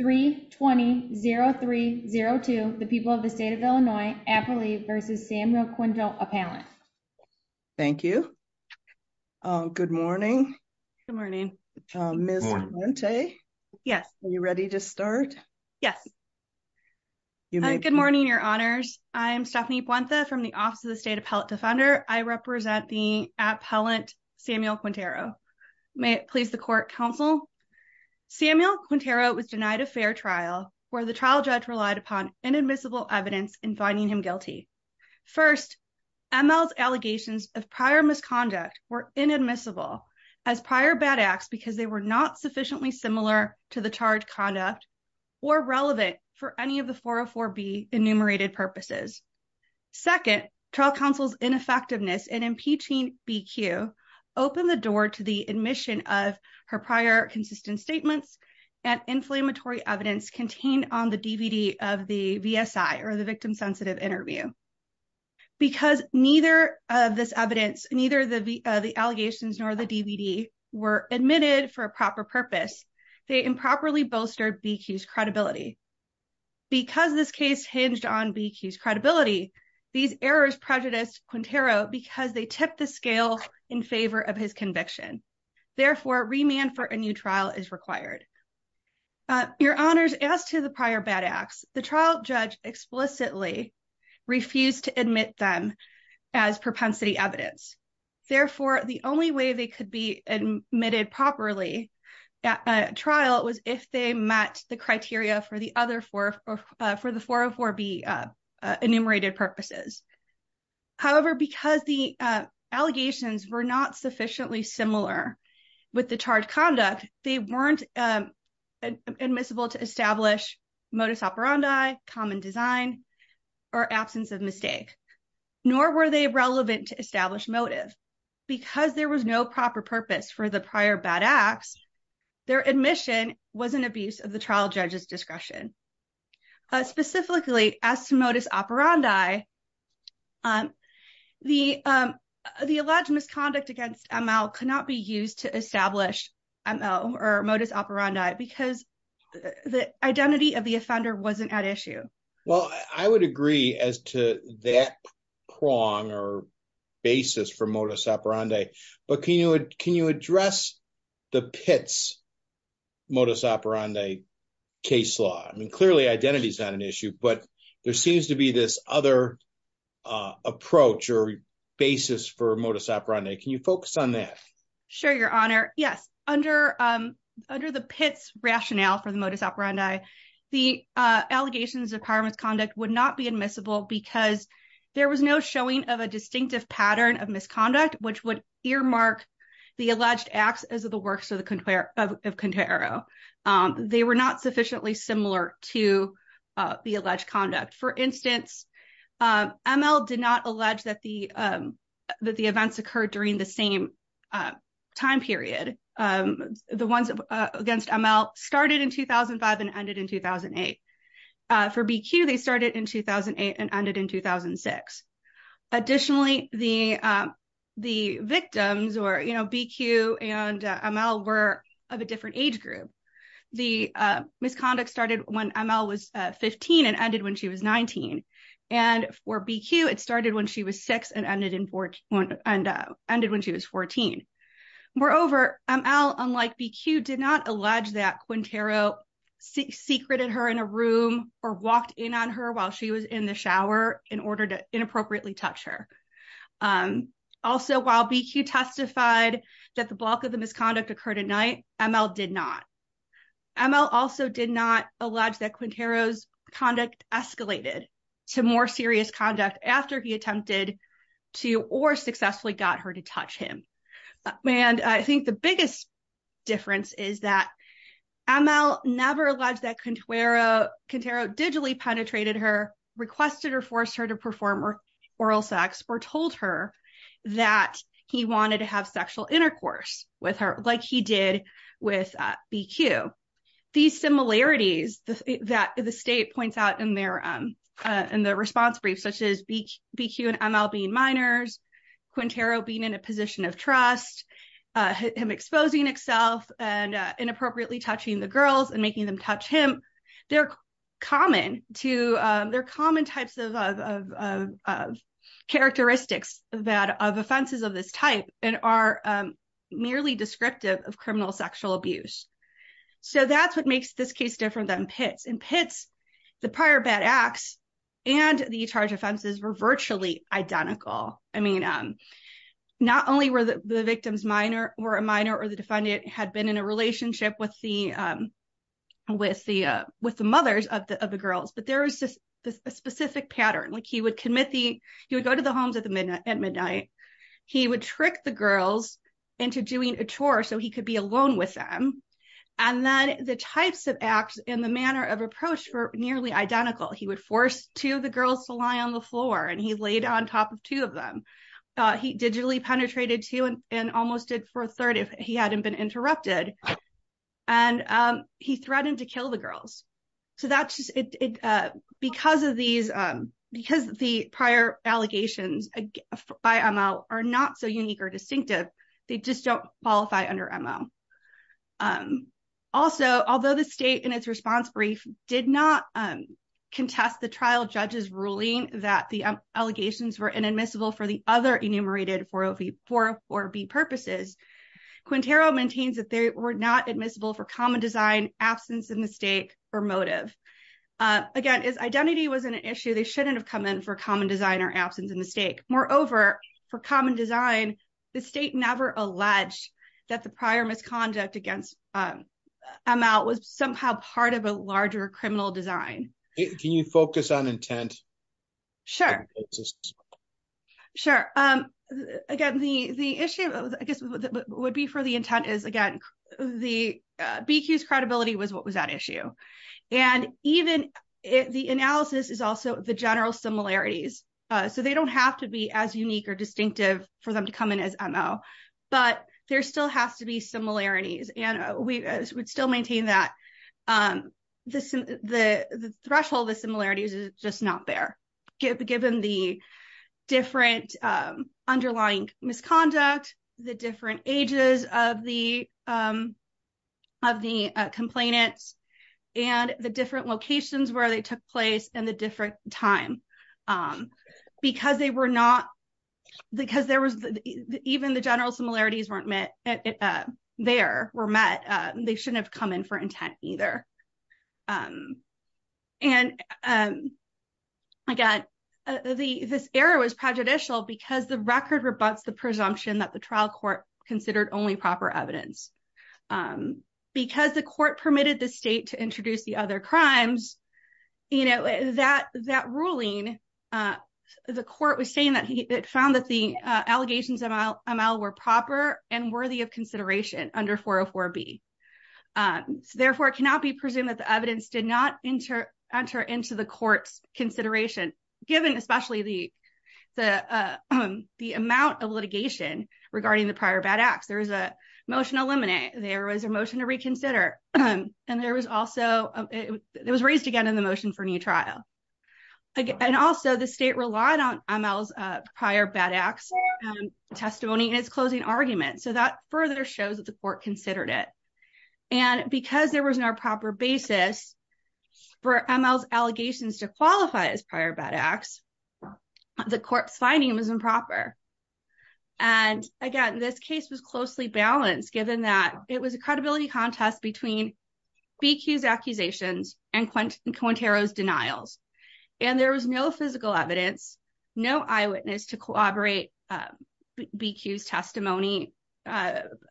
3-20-0302 The People of the State of Illinois, Appalachia v. Samuel Quintero, Appellant. Thank you. Good morning. Good morning. Ms. Puente? Yes. Are you ready to start? Yes. Good morning, your honors. I'm Stephanie Puente from the Office of the State Appellant Defender. I represent the appellant Samuel Quintero. May it please the court counsel. Samuel Quintero was denied a fair trial where the trial judge relied upon inadmissible evidence in finding him guilty. First, ML's allegations of prior misconduct were inadmissible as prior bad acts because they were not sufficiently similar to the charge conduct or relevant for any of the 404b enumerated purposes. Second, trial counsel's ineffectiveness in impeaching BQ opened the admission of her prior consistent statements and inflammatory evidence contained on the DVD of the VSI or the victim-sensitive interview. Because neither of this evidence, neither of the allegations nor the DVD were admitted for a proper purpose, they improperly bolstered BQ's credibility. Because this case hinged on BQ's credibility, these errors prejudiced Quintero because they tipped the scale in favor of his conviction. Therefore, remand for a new trial is required. Your honors, as to the prior bad acts, the trial judge explicitly refused to admit them as propensity evidence. Therefore, the only way they could be admitted properly at a trial was if they met the criteria for the other four, for the 404b enumerated purposes. However, because the allegations were not sufficiently similar with the charge conduct, they weren't admissible to establish modus operandi, common design, or absence of mistake, nor were they relevant to establish motive. Because there was no proper purpose for the prior bad acts, their admission was an abuse of the trial judge's discretion. Specifically, as to modus operandi, the alleged misconduct against ML could not be used to establish ML or modus operandi because the identity of the offender wasn't at issue. Well, I would agree as to that prong or basis for modus operandi. But can you address the Pitts modus operandi case law? I mean, clearly, identity is not an issue, but there seems to be this other approach or basis for modus operandi. Can you focus on that? Sure, your honor. Yes. Under the Pitts rationale for the modus operandi, the allegations of prior misconduct would not be admissible because there was no showing of a distinctive pattern of misconduct, which would earmark the alleged acts as of the works of Quintero. They were not sufficiently similar to the alleged conduct. For instance, ML did not allege that the events occurred during the same time period. The ones against ML started in 2005 and ended in 2008. For BQ, they started in 2008 and ended in 2006. Additionally, the victims or BQ and ML were of a different age group. The misconduct started when ML was 15 and ended when she was 19. And for BQ, it started when she was six and ended when she was 14. Moreover, ML, unlike BQ, did not allege that Quintero secreted her in a room or walked in on while she was in the shower in order to inappropriately touch her. Also, while BQ testified that the bulk of the misconduct occurred at night, ML did not. ML also did not allege that Quintero's conduct escalated to more serious conduct after he attempted to or successfully got her to touch him. And I think the biggest difference is that ML never alleged that Quintero digitally penetrated her, requested or forced her to perform oral sex, or told her that he wanted to have sexual intercourse with her like he did with BQ. These similarities that the state points out in their response brief, such as BQ and ML being minors, Quintero being in a position of trust, him exposing himself and inappropriately touching the victim, they're common types of characteristics of offenses of this type and are merely descriptive of criminal sexual abuse. So that's what makes this case different than PITS. In PITS, the prior bad acts and the charge offenses were virtually identical. I mean, not only were the victims minor or a minor or the defendant had been in a relationship with the mothers of the girls, but there was just a specific pattern. Like he would commit the, he would go to the homes at midnight. He would trick the girls into doing a chore so he could be alone with them. And then the types of acts and the manner of approach were nearly identical. He would force two of the girls to lie on the floor and he laid on top of two of them. He digitally penetrated two and almost did for a third if he hadn't been interrupted. And he threatened to kill the girls. So that's just, because of these, because the prior allegations by ML are not so unique or distinctive, they just don't qualify under ML. Also, although the state in its response brief did not contest the trial judges ruling that the allegations were inadmissible for the other enumerated 404B purposes, Quintero maintains that they were not admissible for common design, absence of mistake, or motive. Again, as identity was an issue, they shouldn't have come in for common design or absence of mistake. Moreover, for common design, the state never alleged that the prior misconduct against ML was somehow part of a larger criminal design. Can you focus on intent? Sure. Sure. Again, the issue, I guess, would be for the intent is, again, the BQ's credibility was what was at issue. And even the analysis is also the general similarities. So they don't have to be as unique or distinctive for them to come in as ML. But there still has to be similarities. And we would still maintain that the threshold of the similarities is just not there, given the different underlying misconduct, the different ages of the complainants, and the different locations where they took place and the different time. Because they were not, because there was, even the general similarities weren't met, there were met, they shouldn't have come in for intent either. And again, this error was prejudicial because the record rebuts the presumption that the trial court considered only proper evidence. Because the court permitted the state to introduce the other crimes, you know, that ruling, the court was saying that it found that the allegations of ML were proper and worthy of consideration under 404B. Therefore, it cannot be presumed that the evidence did not enter into the court's consideration, given especially the amount of litigation regarding the prior bad acts. There was a motion to eliminate, there was a motion to reconsider. And there was also, it was raised again in the motion for new trial. And also the state relied on ML's prior bad acts testimony in its closing argument. So that further shows that the court considered it. And because there was no proper basis for ML's allegations to qualify as prior bad acts, the court's finding was improper. And again, this case was closely balanced, given that it was a credibility contest between BQ's accusations and Quintero's denials. And there was no physical evidence, no eyewitness to corroborate BQ's testimony.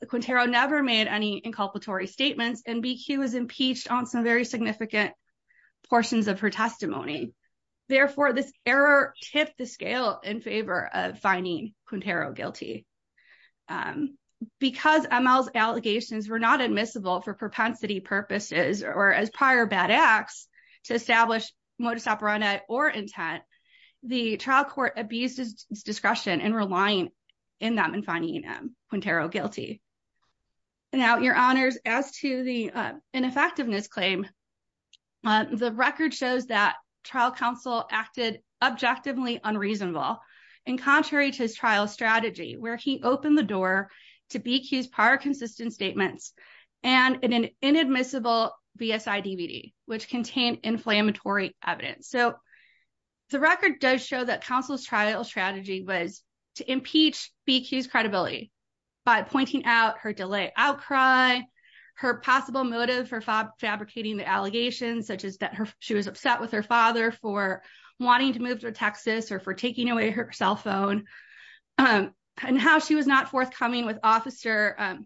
Quintero never made any inculpatory statements and BQ was impeached on some very significant portions of her testimony. Therefore, this error tipped the scale in favor of finding Quintero guilty. Because ML's allegations were not admissible for propensity purposes or as prior bad acts to establish modus operandi or intent, the trial court abused its discretion in relying in them and finding Quintero guilty. Now, your honors, as to the ineffectiveness claim, the record shows that trial counsel acted objectively unreasonable and contrary to his trial strategy, where he opened the door to BQ's prior consistent statements and an inadmissible BSI DVD, which contained inflammatory evidence. So the record does show that counsel's trial strategy was to impeach BQ's credibility by pointing out her delay outcry, her possible motive for fabricating the allegations, such as that she was upset with her father for wanting to move to Texas or for taking away her cell phone, and how she was not forthcoming with Officer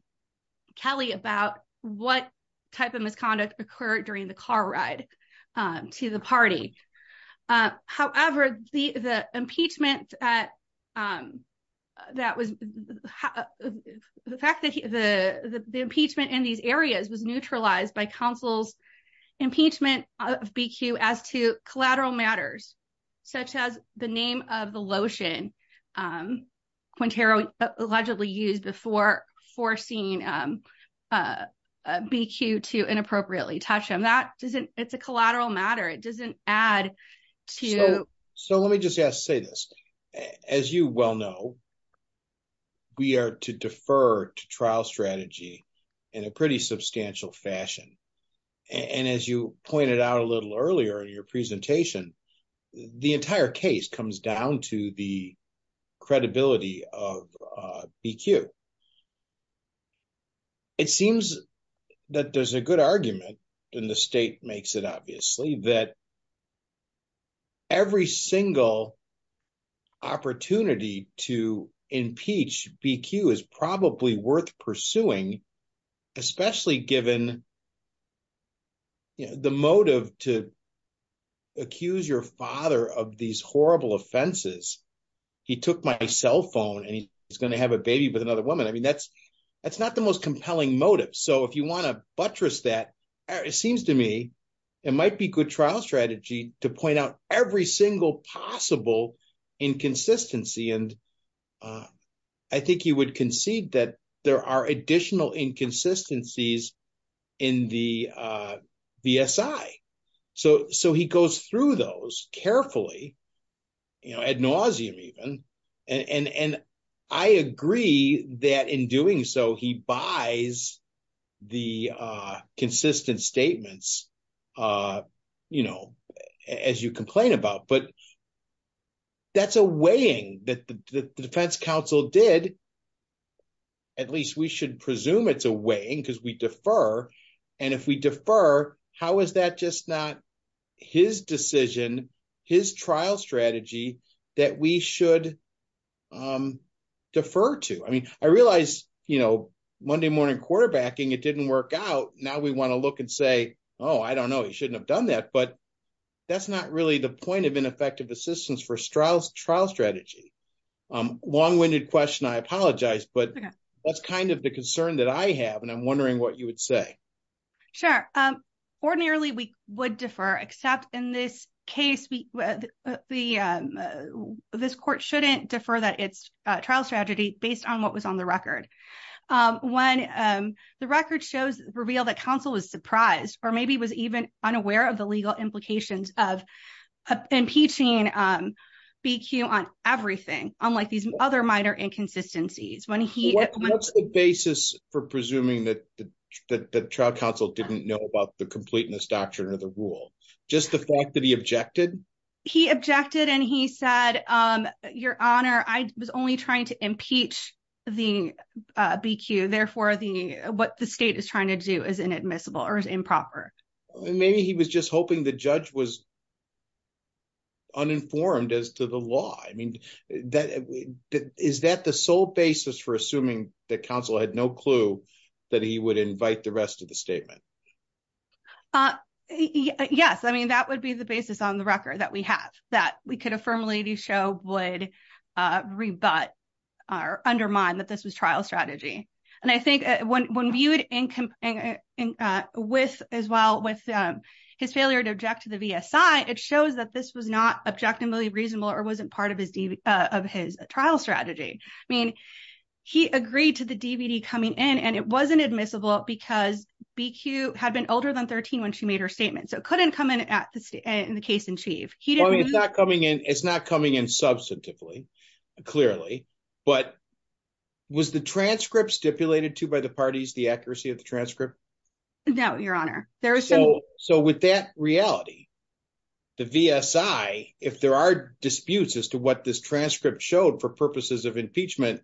Kelly about what type of misconduct occurred during the car ride to the party. However, the fact that the impeachment in these areas was neutralized by counsel's impeachment of BQ as to collateral matters, such as the name of the lotion Quintero allegedly used before forcing BQ to inappropriately touch him. It's a collateral matter. It doesn't add to... So let me just say this. As you well know, we are to defer to trial strategy in a pretty substantial fashion. And as you pointed out a little earlier in your presentation, the entire case comes down to the credibility of BQ. It seems that there's a good argument, and the state makes it obviously, that every single opportunity to impeach BQ is probably worth pursuing, especially given the motive to accuse your father of these horrible offenses. He took my cell phone and he's going to have a baby with another woman. That's not the most compelling motive. So if you want to buttress that, it seems to me it might be good trial strategy to point out every single possible inconsistency. And I think you would concede that there are additional inconsistencies in the VSI. So he goes through those carefully, ad nauseum even. And I agree that in doing so, he buys the consistent statements as you complain about. But that's a weighing that the defense did. At least we should presume it's a weighing because we defer. And if we defer, how is that just not his decision, his trial strategy that we should defer to? I mean, I realize Monday morning quarterbacking, it didn't work out. Now we want to look and say, oh, I don't know, he shouldn't have done that. But that's not really the point of ineffective assistance for trial strategy. Long-winded question, I apologize. But that's kind of the concern that I have. And I'm wondering what you would say. Sure. Ordinarily, we would defer, except in this case, this court shouldn't defer that it's a trial strategy based on what was on the record. When the record shows reveal that counsel was surprised or maybe was even unaware of the legal implications of impeaching BQ on everything, unlike these other minor inconsistencies. What's the basis for presuming that the trial counsel didn't know about the completeness doctrine or the rule? Just the fact that he objected? He objected and he said, Your Honor, I was only trying to impeach the BQ. Therefore, what the state is trying to do is inadmissible or is improper. Maybe he was just hoping the judge was uninformed as to the law. I mean, is that the sole basis for assuming that counsel had no clue that he would invite the rest of the statement? Yes. I mean, that would be the basis on the record that we have that we could affirm would rebut or undermine that this was trial strategy. And I think when viewed with as well with his failure to object to the VSI, it shows that this was not objectively reasonable or wasn't part of his trial strategy. I mean, he agreed to the DVD coming in and it wasn't admissible because BQ had been older than 13 when she made her statement. So it couldn't come in in the case in chief. It's not coming in. It's not coming in substantively, clearly, but was the transcript stipulated to by the parties the accuracy of the transcript? No, Your Honor. So with that reality, the VSI, if there are disputes as to what this transcript showed for purposes of impeachment,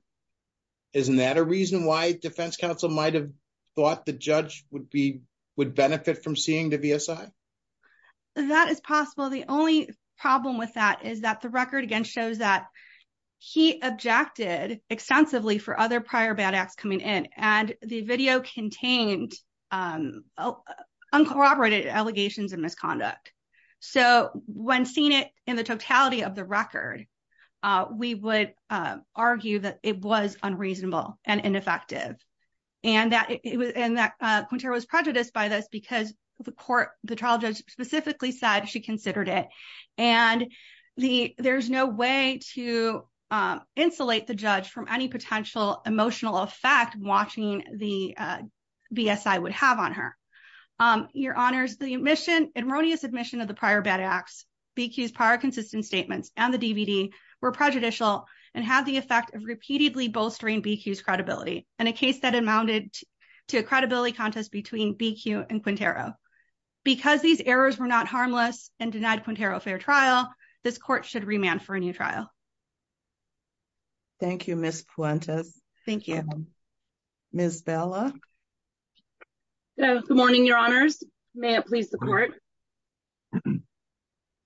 isn't that a reason why defense counsel might have thought the judge would benefit from seeing the VSI? That is possible. The only problem with that is that the record again shows that he objected extensively for other prior bad acts coming in, and the video contained uncorroborated allegations of misconduct. So when seeing it in the totality of the record, we would argue that it was unreasonable and ineffective and that it was and that Quintero was prejudiced by this because the court, the trial judge, specifically said she considered it and there's no way to insulate the judge from any potential emotional effect watching the VSI would have on her. Your Honors, the admission, erroneous admission of the prior bad acts, BQ's prior consistent statements, and the DVD were prejudicial and had the effect of repeatedly bolstering BQ's credibility in a case that amounted to a credibility contest between BQ and Quintero. Because these errors were not harmless and denied Quintero a fair trial, this court should remand for a new trial. Thank you, Ms. Puentes. Thank you. Ms. Bella. Good morning, Your Honors. May it please the court.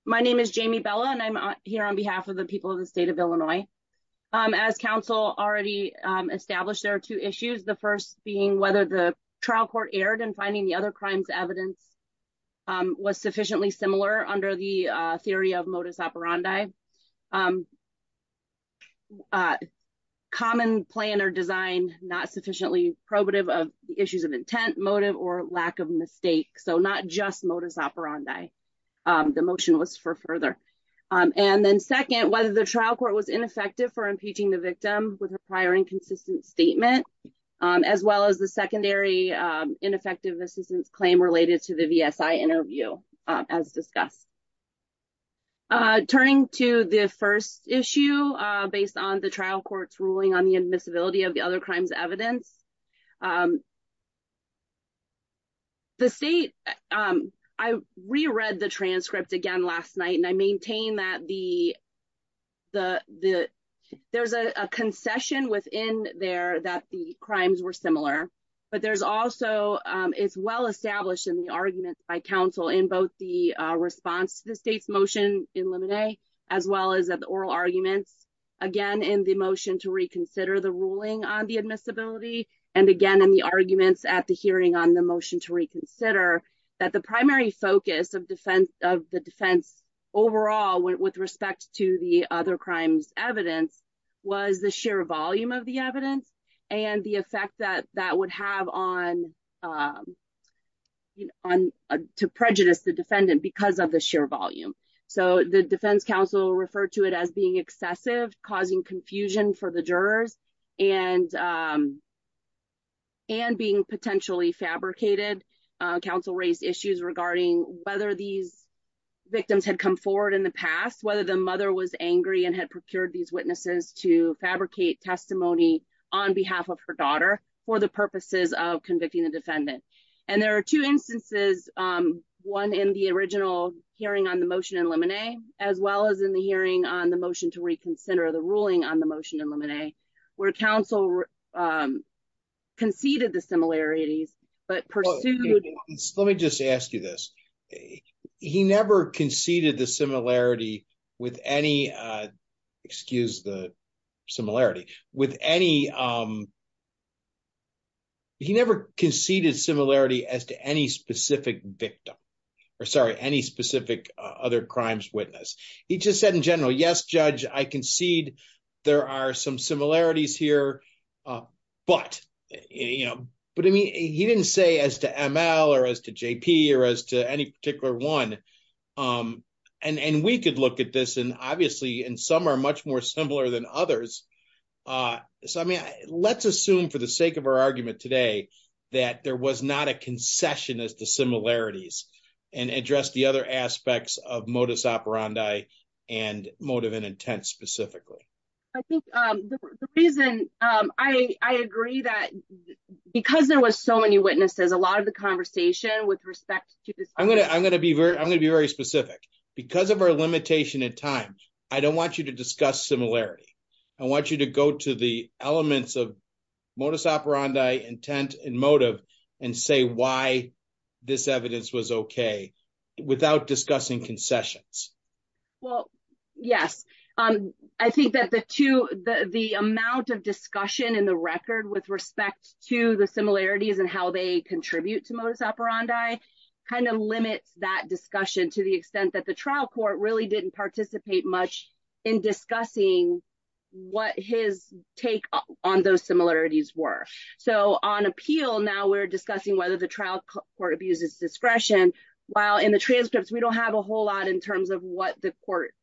My name is Jamie Bella, and I'm here on behalf of the people of the state of Illinois. As counsel already established, there are two issues. The first being whether the trial court erred in finding the other crimes evidence was sufficiently similar under the theory of modus operandi. Common plan or design not sufficiently probative of the issues of intent, motive, or lack of mistake. So not just modus operandi. The motion was for further. And then second, whether the trial court was ineffective for impeaching the victim with her prior inconsistent statement, as well as the secondary ineffective assistance claim related to the VSI interview as discussed. Turning to the first issue, based on the trial court's ruling on the admissibility of the other the state, I reread the transcript again last night, and I maintain that the there's a concession within there that the crimes were similar. But there's also, it's well established in the arguments by counsel in both the response to the state's motion in limine, as well as the oral arguments, again, in the motion to reconsider the ruling on the admissibility. And again, in the arguments at the hearing on the motion to reconsider that the primary focus of the defense overall with respect to the other crimes evidence was the sheer volume of the evidence and the effect that that would have on to prejudice the defendant because of the sheer volume. So the defense counsel referred to it being excessive, causing confusion for the jurors, and being potentially fabricated. Counsel raised issues regarding whether these victims had come forward in the past, whether the mother was angry and had procured these witnesses to fabricate testimony on behalf of her daughter for the purposes of convicting the defendant. And there are two instances, one in the original hearing on the motion in limine, as well as in the hearing on the motion to reconsider the ruling on the motion in limine, where counsel conceded the similarities, but pursued... Let me just ask you this. He never conceded the similarity with any, excuse the victim, or sorry, any specific other crimes witness. He just said in general, yes, judge, I concede there are some similarities here, but he didn't say as to ML or as to JP or as to any particular one. And we could look at this and obviously, and some are much more similar than others. So let's assume for the sake of our argument today, that there was not a concession as to similarities and address the other aspects of modus operandi and motive and intent specifically. I think the reason I agree that because there was so many witnesses, a lot of the conversation with respect to this... I'm going to be very specific. Because of our limitation in time, I don't want you to discuss similarity. I want you to go to the elements of modus operandi, intent and motive, and say why this evidence was okay without discussing concessions. Well, yes. I think that the amount of discussion in the record with respect to the similarities and how they contribute to modus operandi kind of limits that discussion to the extent that the trial court really didn't participate much in discussing what his take on those similarities were. So on appeal, now we're discussing whether the trial court abuses discretion. While in the transcripts, we don't have a whole lot in terms of what the court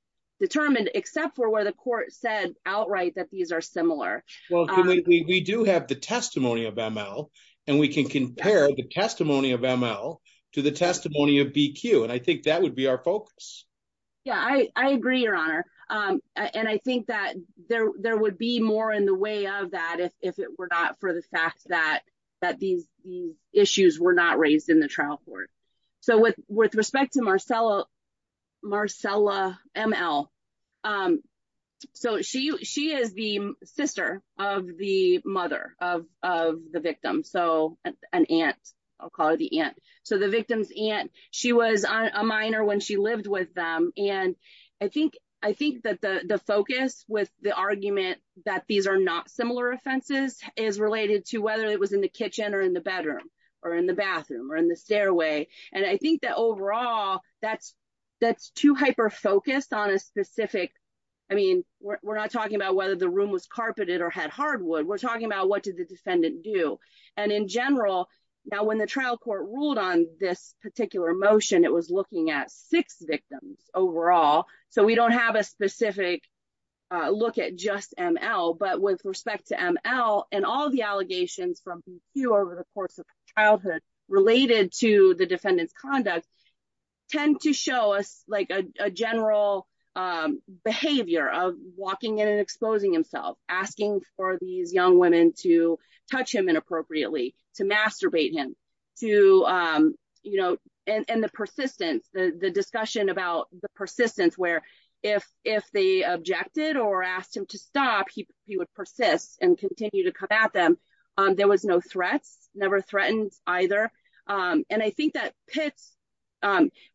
determined, except for where the court said outright that these are similar. Well, we do have the testimony of ML and we can compare the testimony of ML to the testimony of BQ. And I think that would be our focus. Yeah, I agree, Your Honor. And I think that there would be more in the way of that if it were not the fact that these issues were not raised in the trial court. So with respect to Marcella ML, so she is the sister of the mother of the victim. So an aunt, I'll call her the aunt. So the victim's aunt, she was a minor when she lived with them. And I think that the focus with the argument that these are not similar offenses is related to whether it was in the kitchen or in the bedroom or in the bathroom or in the stairway. And I think that overall, that's too hyper-focused on a specific, I mean, we're not talking about whether the room was carpeted or had hardwood, we're talking about what did the defendant do. And in general, now when the trial court ruled on this particular motion, it was looking at six victims overall. So we don't have a specific look at just ML, but with respect to ML and all the allegations from BQ over the course of childhood related to the defendant's conduct tend to show us like a general behavior of walking in and exposing himself, asking for these young women to touch him inappropriately, to masturbate him, and the persistence, the discussion about the persistence where if they objected or asked him to stop, he would persist and continue to come at them. There was no threats, never threatened either. And I think that pits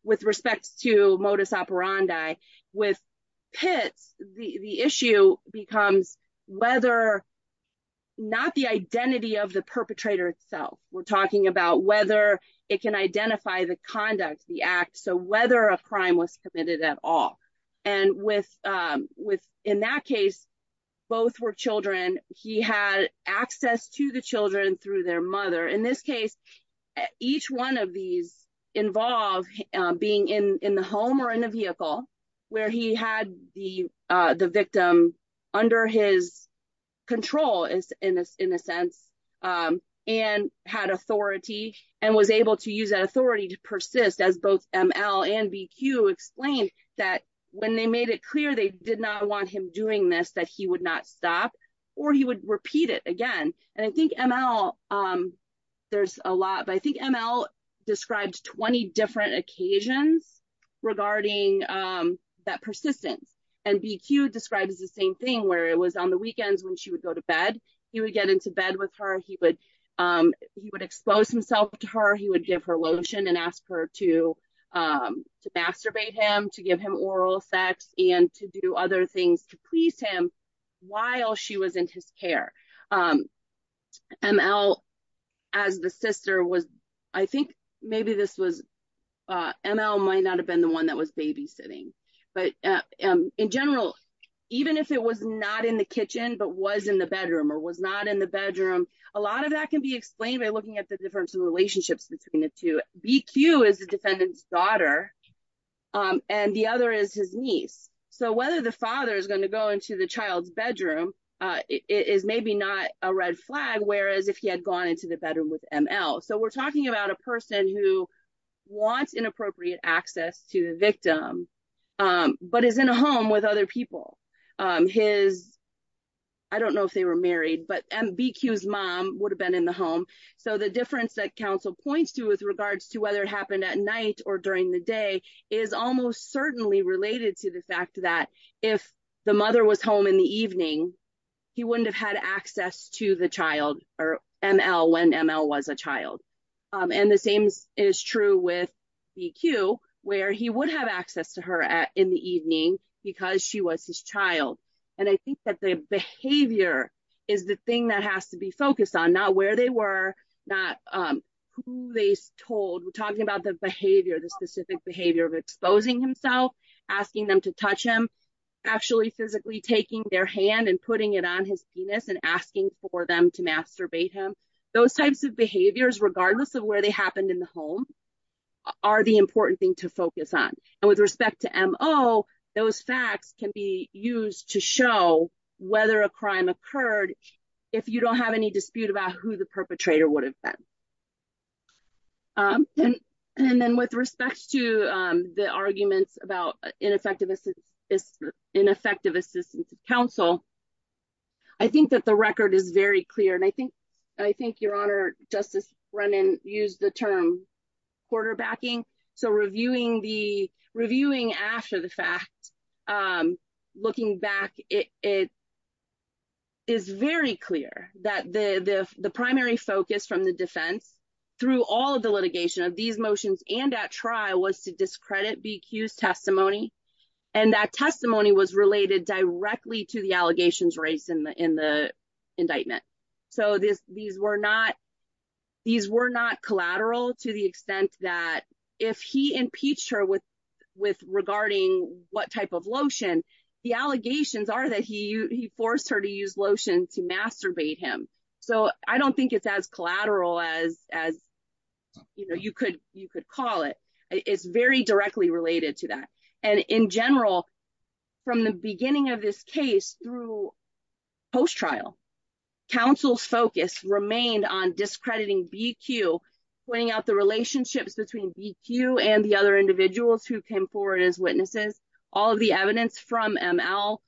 with respect to perpetrator itself. We're talking about whether it can identify the conduct, the act, so whether a crime was committed at all. And in that case, both were children, he had access to the children through their mother. In this case, each one of these involve being in the home or in a vehicle where he had the victim under his control, in a sense, and had authority and was able to use that authority to persist as both ML and BQ explained that when they made it clear they did not want him doing this, that he would not stop or he would repeat it again. And I think ML, there's a lot, but I think ML described 20 different occasions regarding that persistence. And BQ describes the same thing where it was on the weekends when she would go to bed, he would get into bed with her, he would expose himself to her, he would give her lotion and ask her to masturbate him, to give him oral sex, and to do other things to please him while she was in his care. ML as the sister was, I think maybe this was, ML might not have been the one that was babysitting. But in general, even if it was not in the kitchen, but was in the bedroom or was not in the bedroom, a lot of that can be explained by looking at the difference in relationships between the two. BQ is the defendant's daughter and the other is his niece. So whether the father is going to go into the bedroom is maybe not a red flag, whereas if he had gone into the bedroom with ML. So we're talking about a person who wants inappropriate access to the victim, but is in a home with other people. His, I don't know if they were married, but BQ's mom would have been in the home. So the difference that counsel points to with regards to whether it happened at night or during the day is almost certainly related to the fact that if the mother was home in the evening, he wouldn't have had access to the child or ML when ML was a child. And the same is true with BQ, where he would have access to her in the evening because she was his child. And I think that the behavior is the thing that has to be focused on, not where they were, not who they told. We're talking about the behavior, the specific behavior of exposing himself, asking them to touch him, actually physically taking their hand and putting it on his penis and asking for them to masturbate him. Those types of behaviors, regardless of where they happened in the home, are the important thing to focus on. And with respect to ML, those facts can be used to show whether a crime occurred if you don't have any dispute about who the perpetrator would have been. And then with respect to the arguments about ineffective assistance of counsel, I think that the record is very clear. And I think, Your Honor, Justice Brennan used the term quarterbacking. So reviewing after the fact, looking back, it is very clear that the primary focus from the defense, through all of the litigation of these motions and at trial, was to discredit BQ's testimony. And that testimony was related directly to the allegations raised in the indictment. So these were not collateral to the extent that if he impeached her with regarding what type of lotion, the allegations are that he forced her to use as collateral as you could call it. It's very directly related to that. And in general, from the beginning of this case through post-trial, counsel's focus remained on discrediting BQ, pointing out the relationships between BQ and the other individuals who came forward as witnesses, all of the evidence from ML,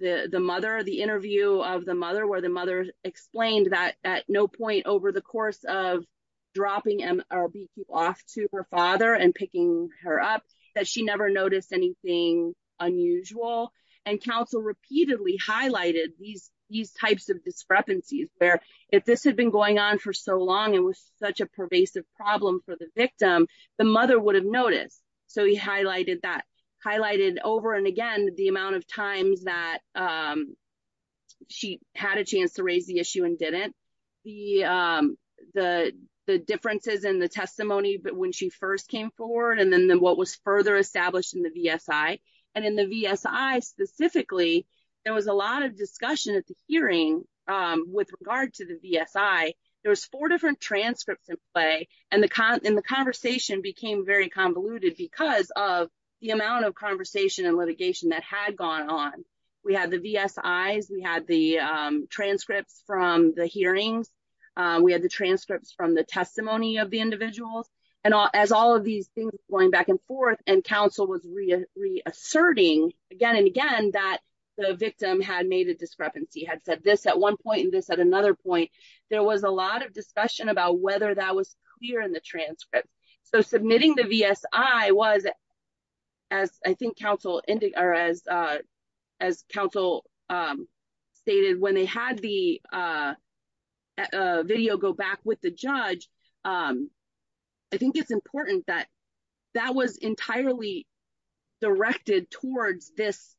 the mother, the interview of the mother where the mother explained that at no point over the course of dropping BQ off to her father and picking her up that she never noticed anything unusual. And counsel repeatedly highlighted these types of discrepancies where if this had been going on for so long, it was such a pervasive problem for the victim, the mother would have noticed. So he highlighted that, highlighted over and again, the amount of times that she had a chance to raise the issue and didn't, the differences in the testimony, but when she first came forward and then what was further established in the VSI. And in the VSI specifically, there was a lot of discussion at the hearing with regard to the VSI. There was four different transcripts in play and the conversation became very convoluted because of the amount of conversation and litigation that had gone on. We had the VSIs, we had the transcripts from the hearings, we had the transcripts from the testimony of the individuals and as all of these things going back and forth and counsel was reasserting again and again that the victim had made a discrepancy, had said this at one point and this at another point, there was a lot of as I think counsel stated when they had the video go back with the judge, I think it's important that that was entirely directed towards this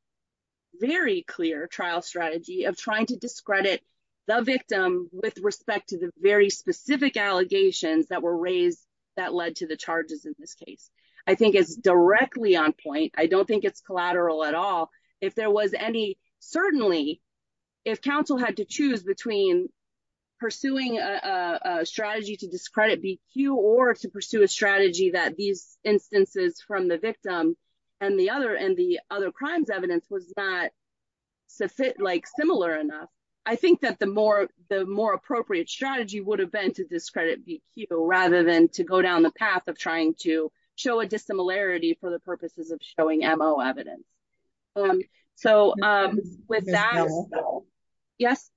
very clear trial strategy of trying to discredit the victim with respect to the very specific allegations that were raised that led to the charges in this case. I think it's directly on point. I don't think it's collateral at all. If there was any, certainly if counsel had to choose between pursuing a strategy to discredit BQ or to pursue a strategy that these instances from the victim and the other and the other crimes evidence was not similar enough, I think that the more appropriate strategy would have been to discredit BQ rather than to go down the path of trying to show a dissimilarity for the purposes of showing MO evidence. So with that, yes?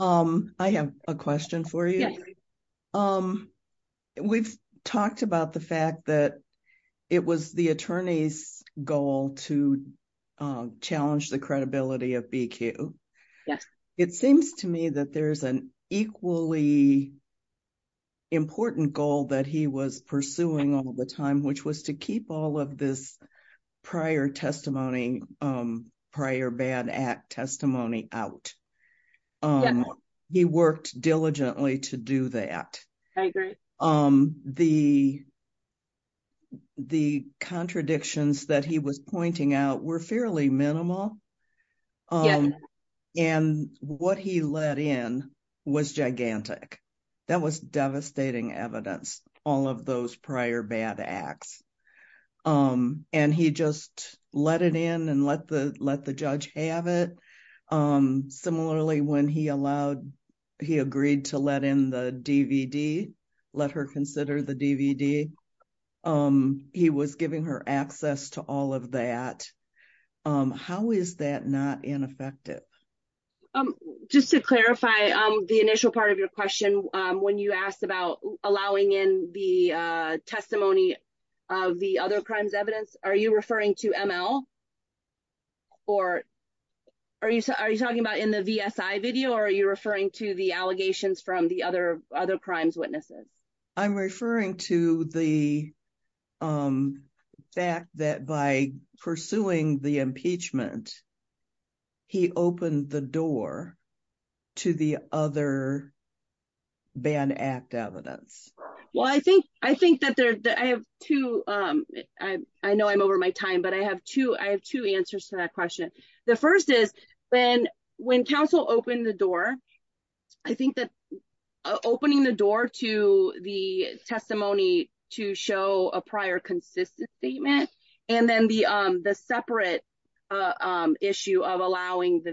I have a question for you. We've talked about the fact that it was the attorney's to challenge the credibility of BQ. It seems to me that there's an equally important goal that he was pursuing all the time, which was to keep all of this prior bad act testimony out. He worked diligently to do that. I agree. The contradictions that he was pointing out were fairly minimal. And what he let in was gigantic. That was devastating evidence, all of those prior bad acts. And he just let it in and let the judge have it. Similarly, when he allowed, he agreed to let in the DVD, let her consider the DVD. He was giving her access to all of that. How is that not ineffective? Just to clarify the initial part of your question, when you asked about allowing in the testimony of the other crimes evidence, are you referring to ML? Or are you talking about in the VSI video, or are you referring to the allegations from the other crimes witnesses? I'm referring to the fact that by pursuing the impeachment, he opened the door to the other bad act evidence. Well, I know I'm over my time, but I have two answers to that question. The first is when counsel opened the door, I think that opening the door to the testimony to show a prior consistent statement, and then the separate issue of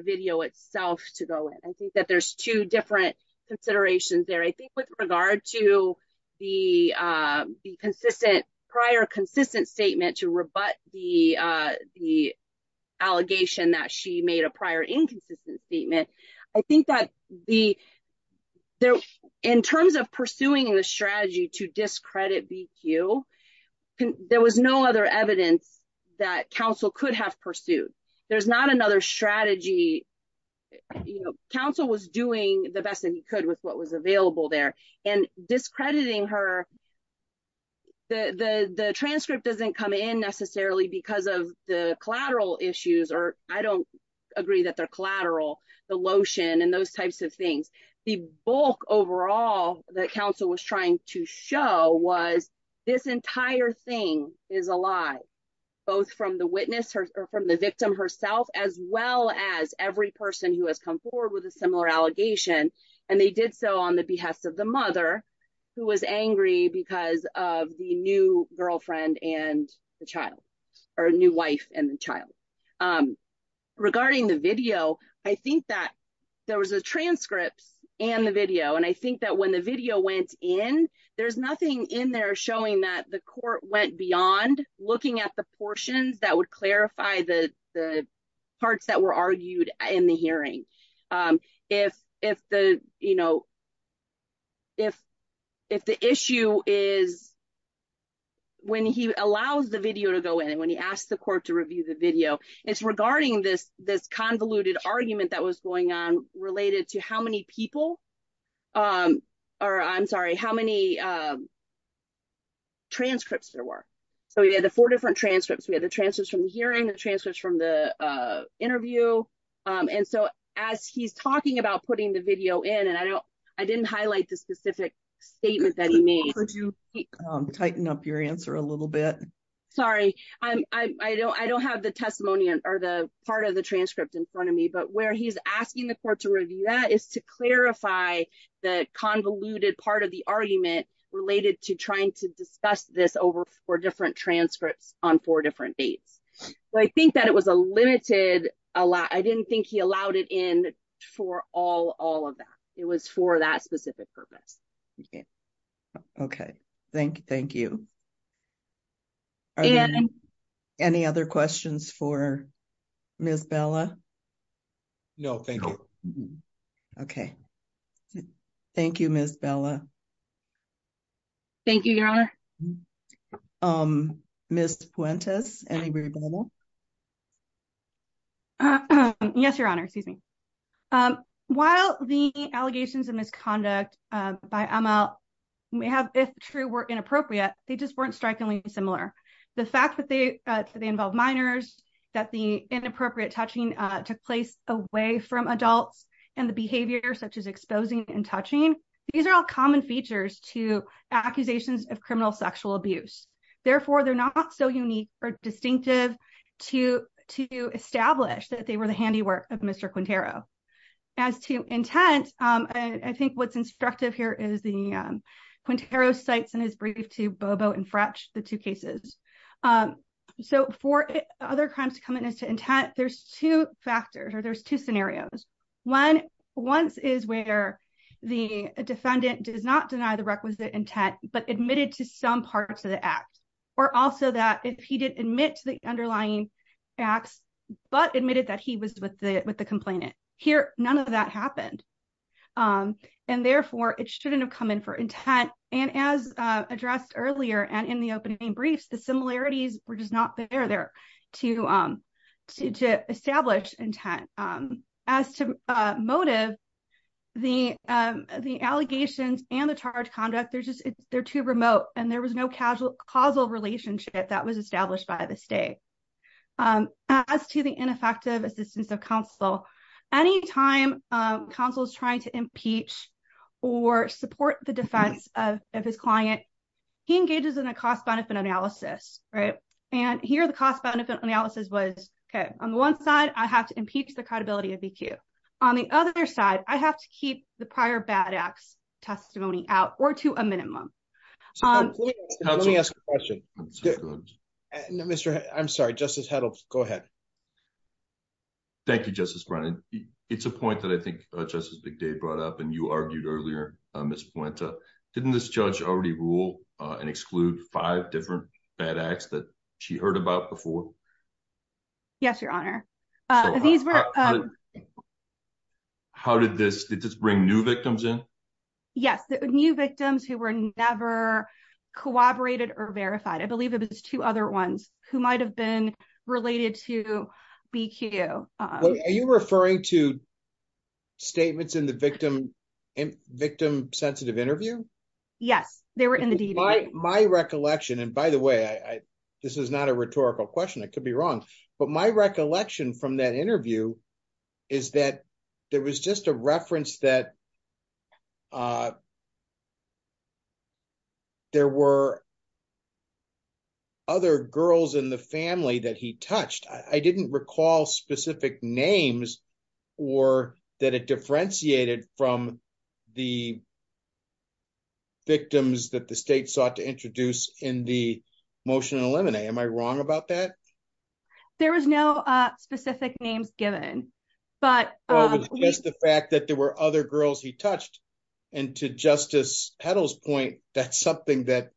video itself to go in. I think that there's two different considerations there. I think with regard to the prior consistent statement to rebut the allegation that she made a prior inconsistent statement, I think that in terms of pursuing the strategy to discredit BQ, there was no other strategy. Counsel was doing the best that he could with what was available there, and discrediting her, the transcript doesn't come in necessarily because of the collateral issues, or I don't agree that they're collateral, the lotion and those types of things. The bulk overall that counsel was trying to show was this entire thing is a lie, both from the witness or from the victim herself, as well as every person who has come forward with a similar allegation, and they did so on the behest of the mother who was angry because of the new girlfriend and the child, or new wife and the child. Regarding the video, I think that there was a transcript and the video, and I think that when the video went in, there's nothing in there showing that the court went beyond looking at the portions that would clarify the parts that were argued in the hearing. If the issue is when he allows the video to go in, and when he asked the court to review the video, it's regarding this convoluted argument that was going on related to how many people, or I'm sorry, how many transcripts there were. We had the four different transcripts. We had the transcripts from the hearing, the transcripts from the interview, and so as he's talking about putting the video in, and I didn't highlight the specific statement that he made. Could you tighten up your answer a little bit? Sorry, I don't have the testimony or the part of the convoluted part of the argument related to trying to discuss this over four different transcripts on four different dates. I think that it was a limited, I didn't think he allowed it in for all of that. It was for that specific purpose. Okay, thank you. Any other questions for Ms. Bella? No, thank you. Okay, thank you, Ms. Bella. Thank you, Your Honor. Ms. Puentes, any rebuttal? Yes, Your Honor, excuse me. While the allegations of misconduct by Amal may have, if true, were inappropriate, they just weren't strikingly similar. The fact that they involve minors, that the inappropriate touching took place away from adults, and the behavior such as exposing and touching, these are all common features to accusations of criminal sexual abuse. Therefore, they're not so unique or distinctive to establish that they were the handiwork of Mr. Quintero. As to intent, I think what's instructive here is the Quintero cites in his brief to Bobo and intent, there's two factors or there's two scenarios. One is where the defendant does not deny the requisite intent, but admitted to some parts of the act, or also that if he did admit to the underlying acts, but admitted that he was with the complainant. Here, none of that happened. And therefore, it shouldn't have come in for intent. And as addressed earlier, and in opening briefs, the similarities were just not there to establish intent. As to motive, the allegations and the charge conduct, they're too remote, and there was no causal relationship that was established by the state. As to the ineffective assistance of counsel, any time counsel is trying to impeach or support the defense of his client, he engages in a cost-benefit analysis. And here, the cost-benefit analysis was, okay, on the one side, I have to impeach the credibility of EQ. On the other side, I have to keep the prior bad acts testimony out or to a minimum. Let me ask a question. I'm sorry, Justice Heddle, go ahead. Thank you, Justice Brennan. It's a point that I think Justice McDade brought up, and you argued earlier, Ms. Puente. Didn't this judge already rule and exclude five different bad acts that she heard about before? Yes, Your Honor. Did this bring new victims in? Yes, new victims who were never corroborated or verified. I believe it was two other ones who might have been related to BQ. Are you referring to statements in the victim-sensitive interview? Yes, they were in the DVD. My recollection, and by the way, this is not a rhetorical question, I could be wrong, but my recollection from that interview is that there was just a reference that there were other girls in the family that he touched. I didn't recall specific names or that it differentiated from the victims that the state sought to introduce in the motion to eliminate. Am I wrong about that? There was no specific names given, but- And to Justice Petal's point, that's something that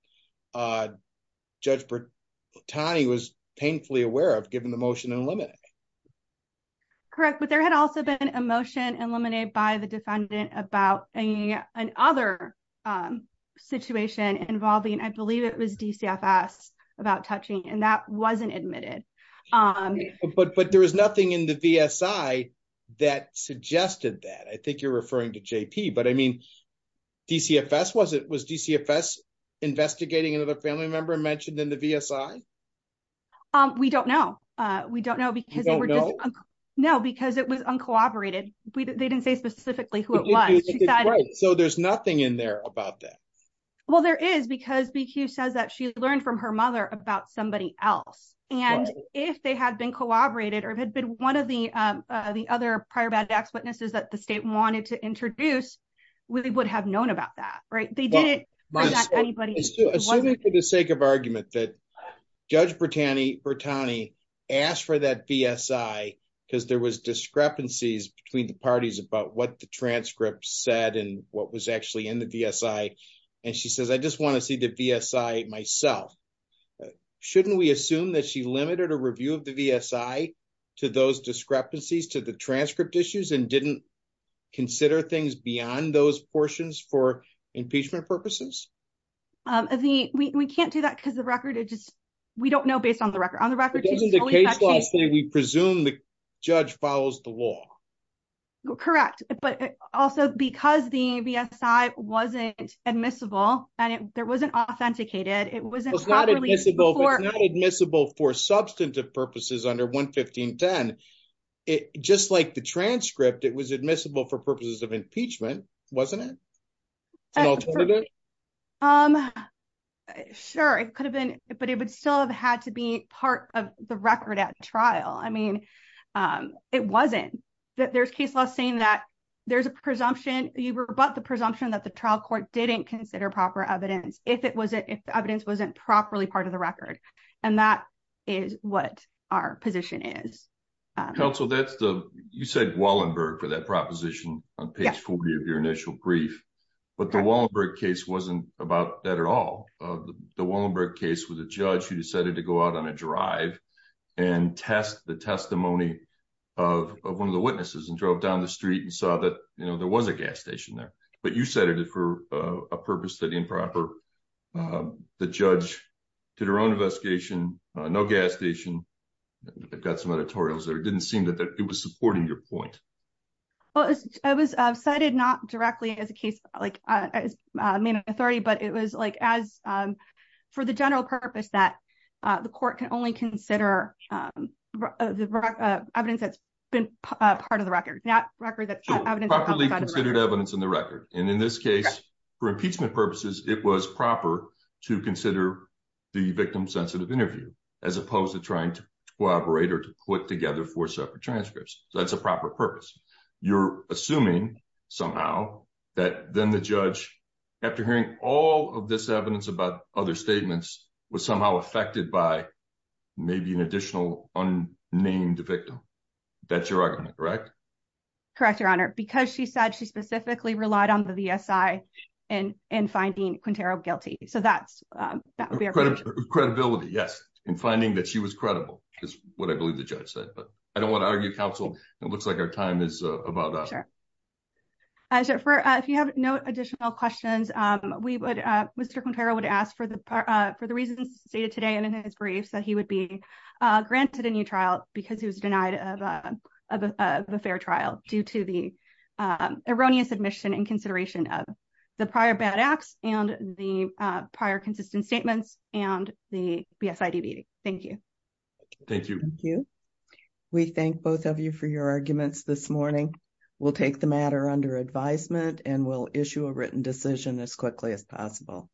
Judge Bertani was painfully aware of, given the motion to eliminate. Correct, but there had also been a motion eliminated by the defendant about another situation involving, I believe it was DCFS, about touching, and that wasn't admitted. But there was nothing in the VSI that suggested that. I think you're referring to JP, but I mean, DCFS, was DCFS investigating another family member mentioned in the VSI? We don't know. We don't know because- You don't know? No, because it was uncooperated. They didn't say specifically who it was. So there's nothing in there about that? Well, there is because BQ says that she learned from her mother about somebody else. And if they had been cooperated or if it had been one of the other prior bad acts witnesses that the state wanted to introduce, we would have known about that, right? They didn't- Assuming for the sake of argument that Judge Bertani asked for that VSI because there was discrepancies between the parties about what the transcript said and what was actually in the VSI. And she says, I just want to see the VSI myself. Shouldn't we assume that she limited a review of VSI to those discrepancies, to the transcript issues and didn't consider things beyond those portions for impeachment purposes? We can't do that because the record, it just, we don't know based on the record. On the record- Doesn't the case law say we presume the judge follows the law? Correct. But also because the VSI wasn't admissible and there wasn't authenticated, it wasn't properly before- It's not admissible for substantive purposes under 115.10. Just like the transcript, it was admissible for purposes of impeachment, wasn't it? An alternative? Sure, it could have been, but it would still have had to be part of the record at trial. I mean, it wasn't. There's case law saying that there's a presumption, you rebut the presumption that the trial court didn't consider proper evidence if the evidence wasn't properly part of the record. That is what our position is. Counsel, you said Wallenberg for that proposition on page 40 of your initial brief, but the Wallenberg case wasn't about that at all. The Wallenberg case was a judge who decided to go out on a drive and test the testimony of one of the witnesses and drove down the street and saw that there was a gas station there, but you said it for a purpose that improper. The judge did her investigation, no gas station. I've got some editorials there. It didn't seem that it was supporting your point. Well, it was cited not directly as a case, like as main authority, but it was like as for the general purpose that the court can only consider the evidence that's been part of the record, not record that- Properly considered evidence in the record. In this case, for impeachment purposes, it was proper to consider the victim-sensitive interview as opposed to trying to collaborate or to put together four separate transcripts. That's a proper purpose. You're assuming somehow that then the judge, after hearing all of this evidence about other statements, was somehow affected by maybe an additional unnamed victim. That's your argument, correct? Correct, Your Honor. Because she said she specifically relied on the ESI in finding Quintero guilty. That would be our- Credibility, yes. In finding that she was credible, is what I believe the judge said. I don't want to argue counsel. It looks like our time is about up. Sure. If you have no additional questions, Mr. Quintero would ask for the reasons stated today and in his briefs that he would be granted a new trial because he was denied of a fair trial due to the erroneous admission and consideration of the prior bad acts and the prior consistent statements and the BSIDB. Thank you. Thank you. Thank you. We thank both of you for your arguments this morning. We'll take the matter under advisement and we'll issue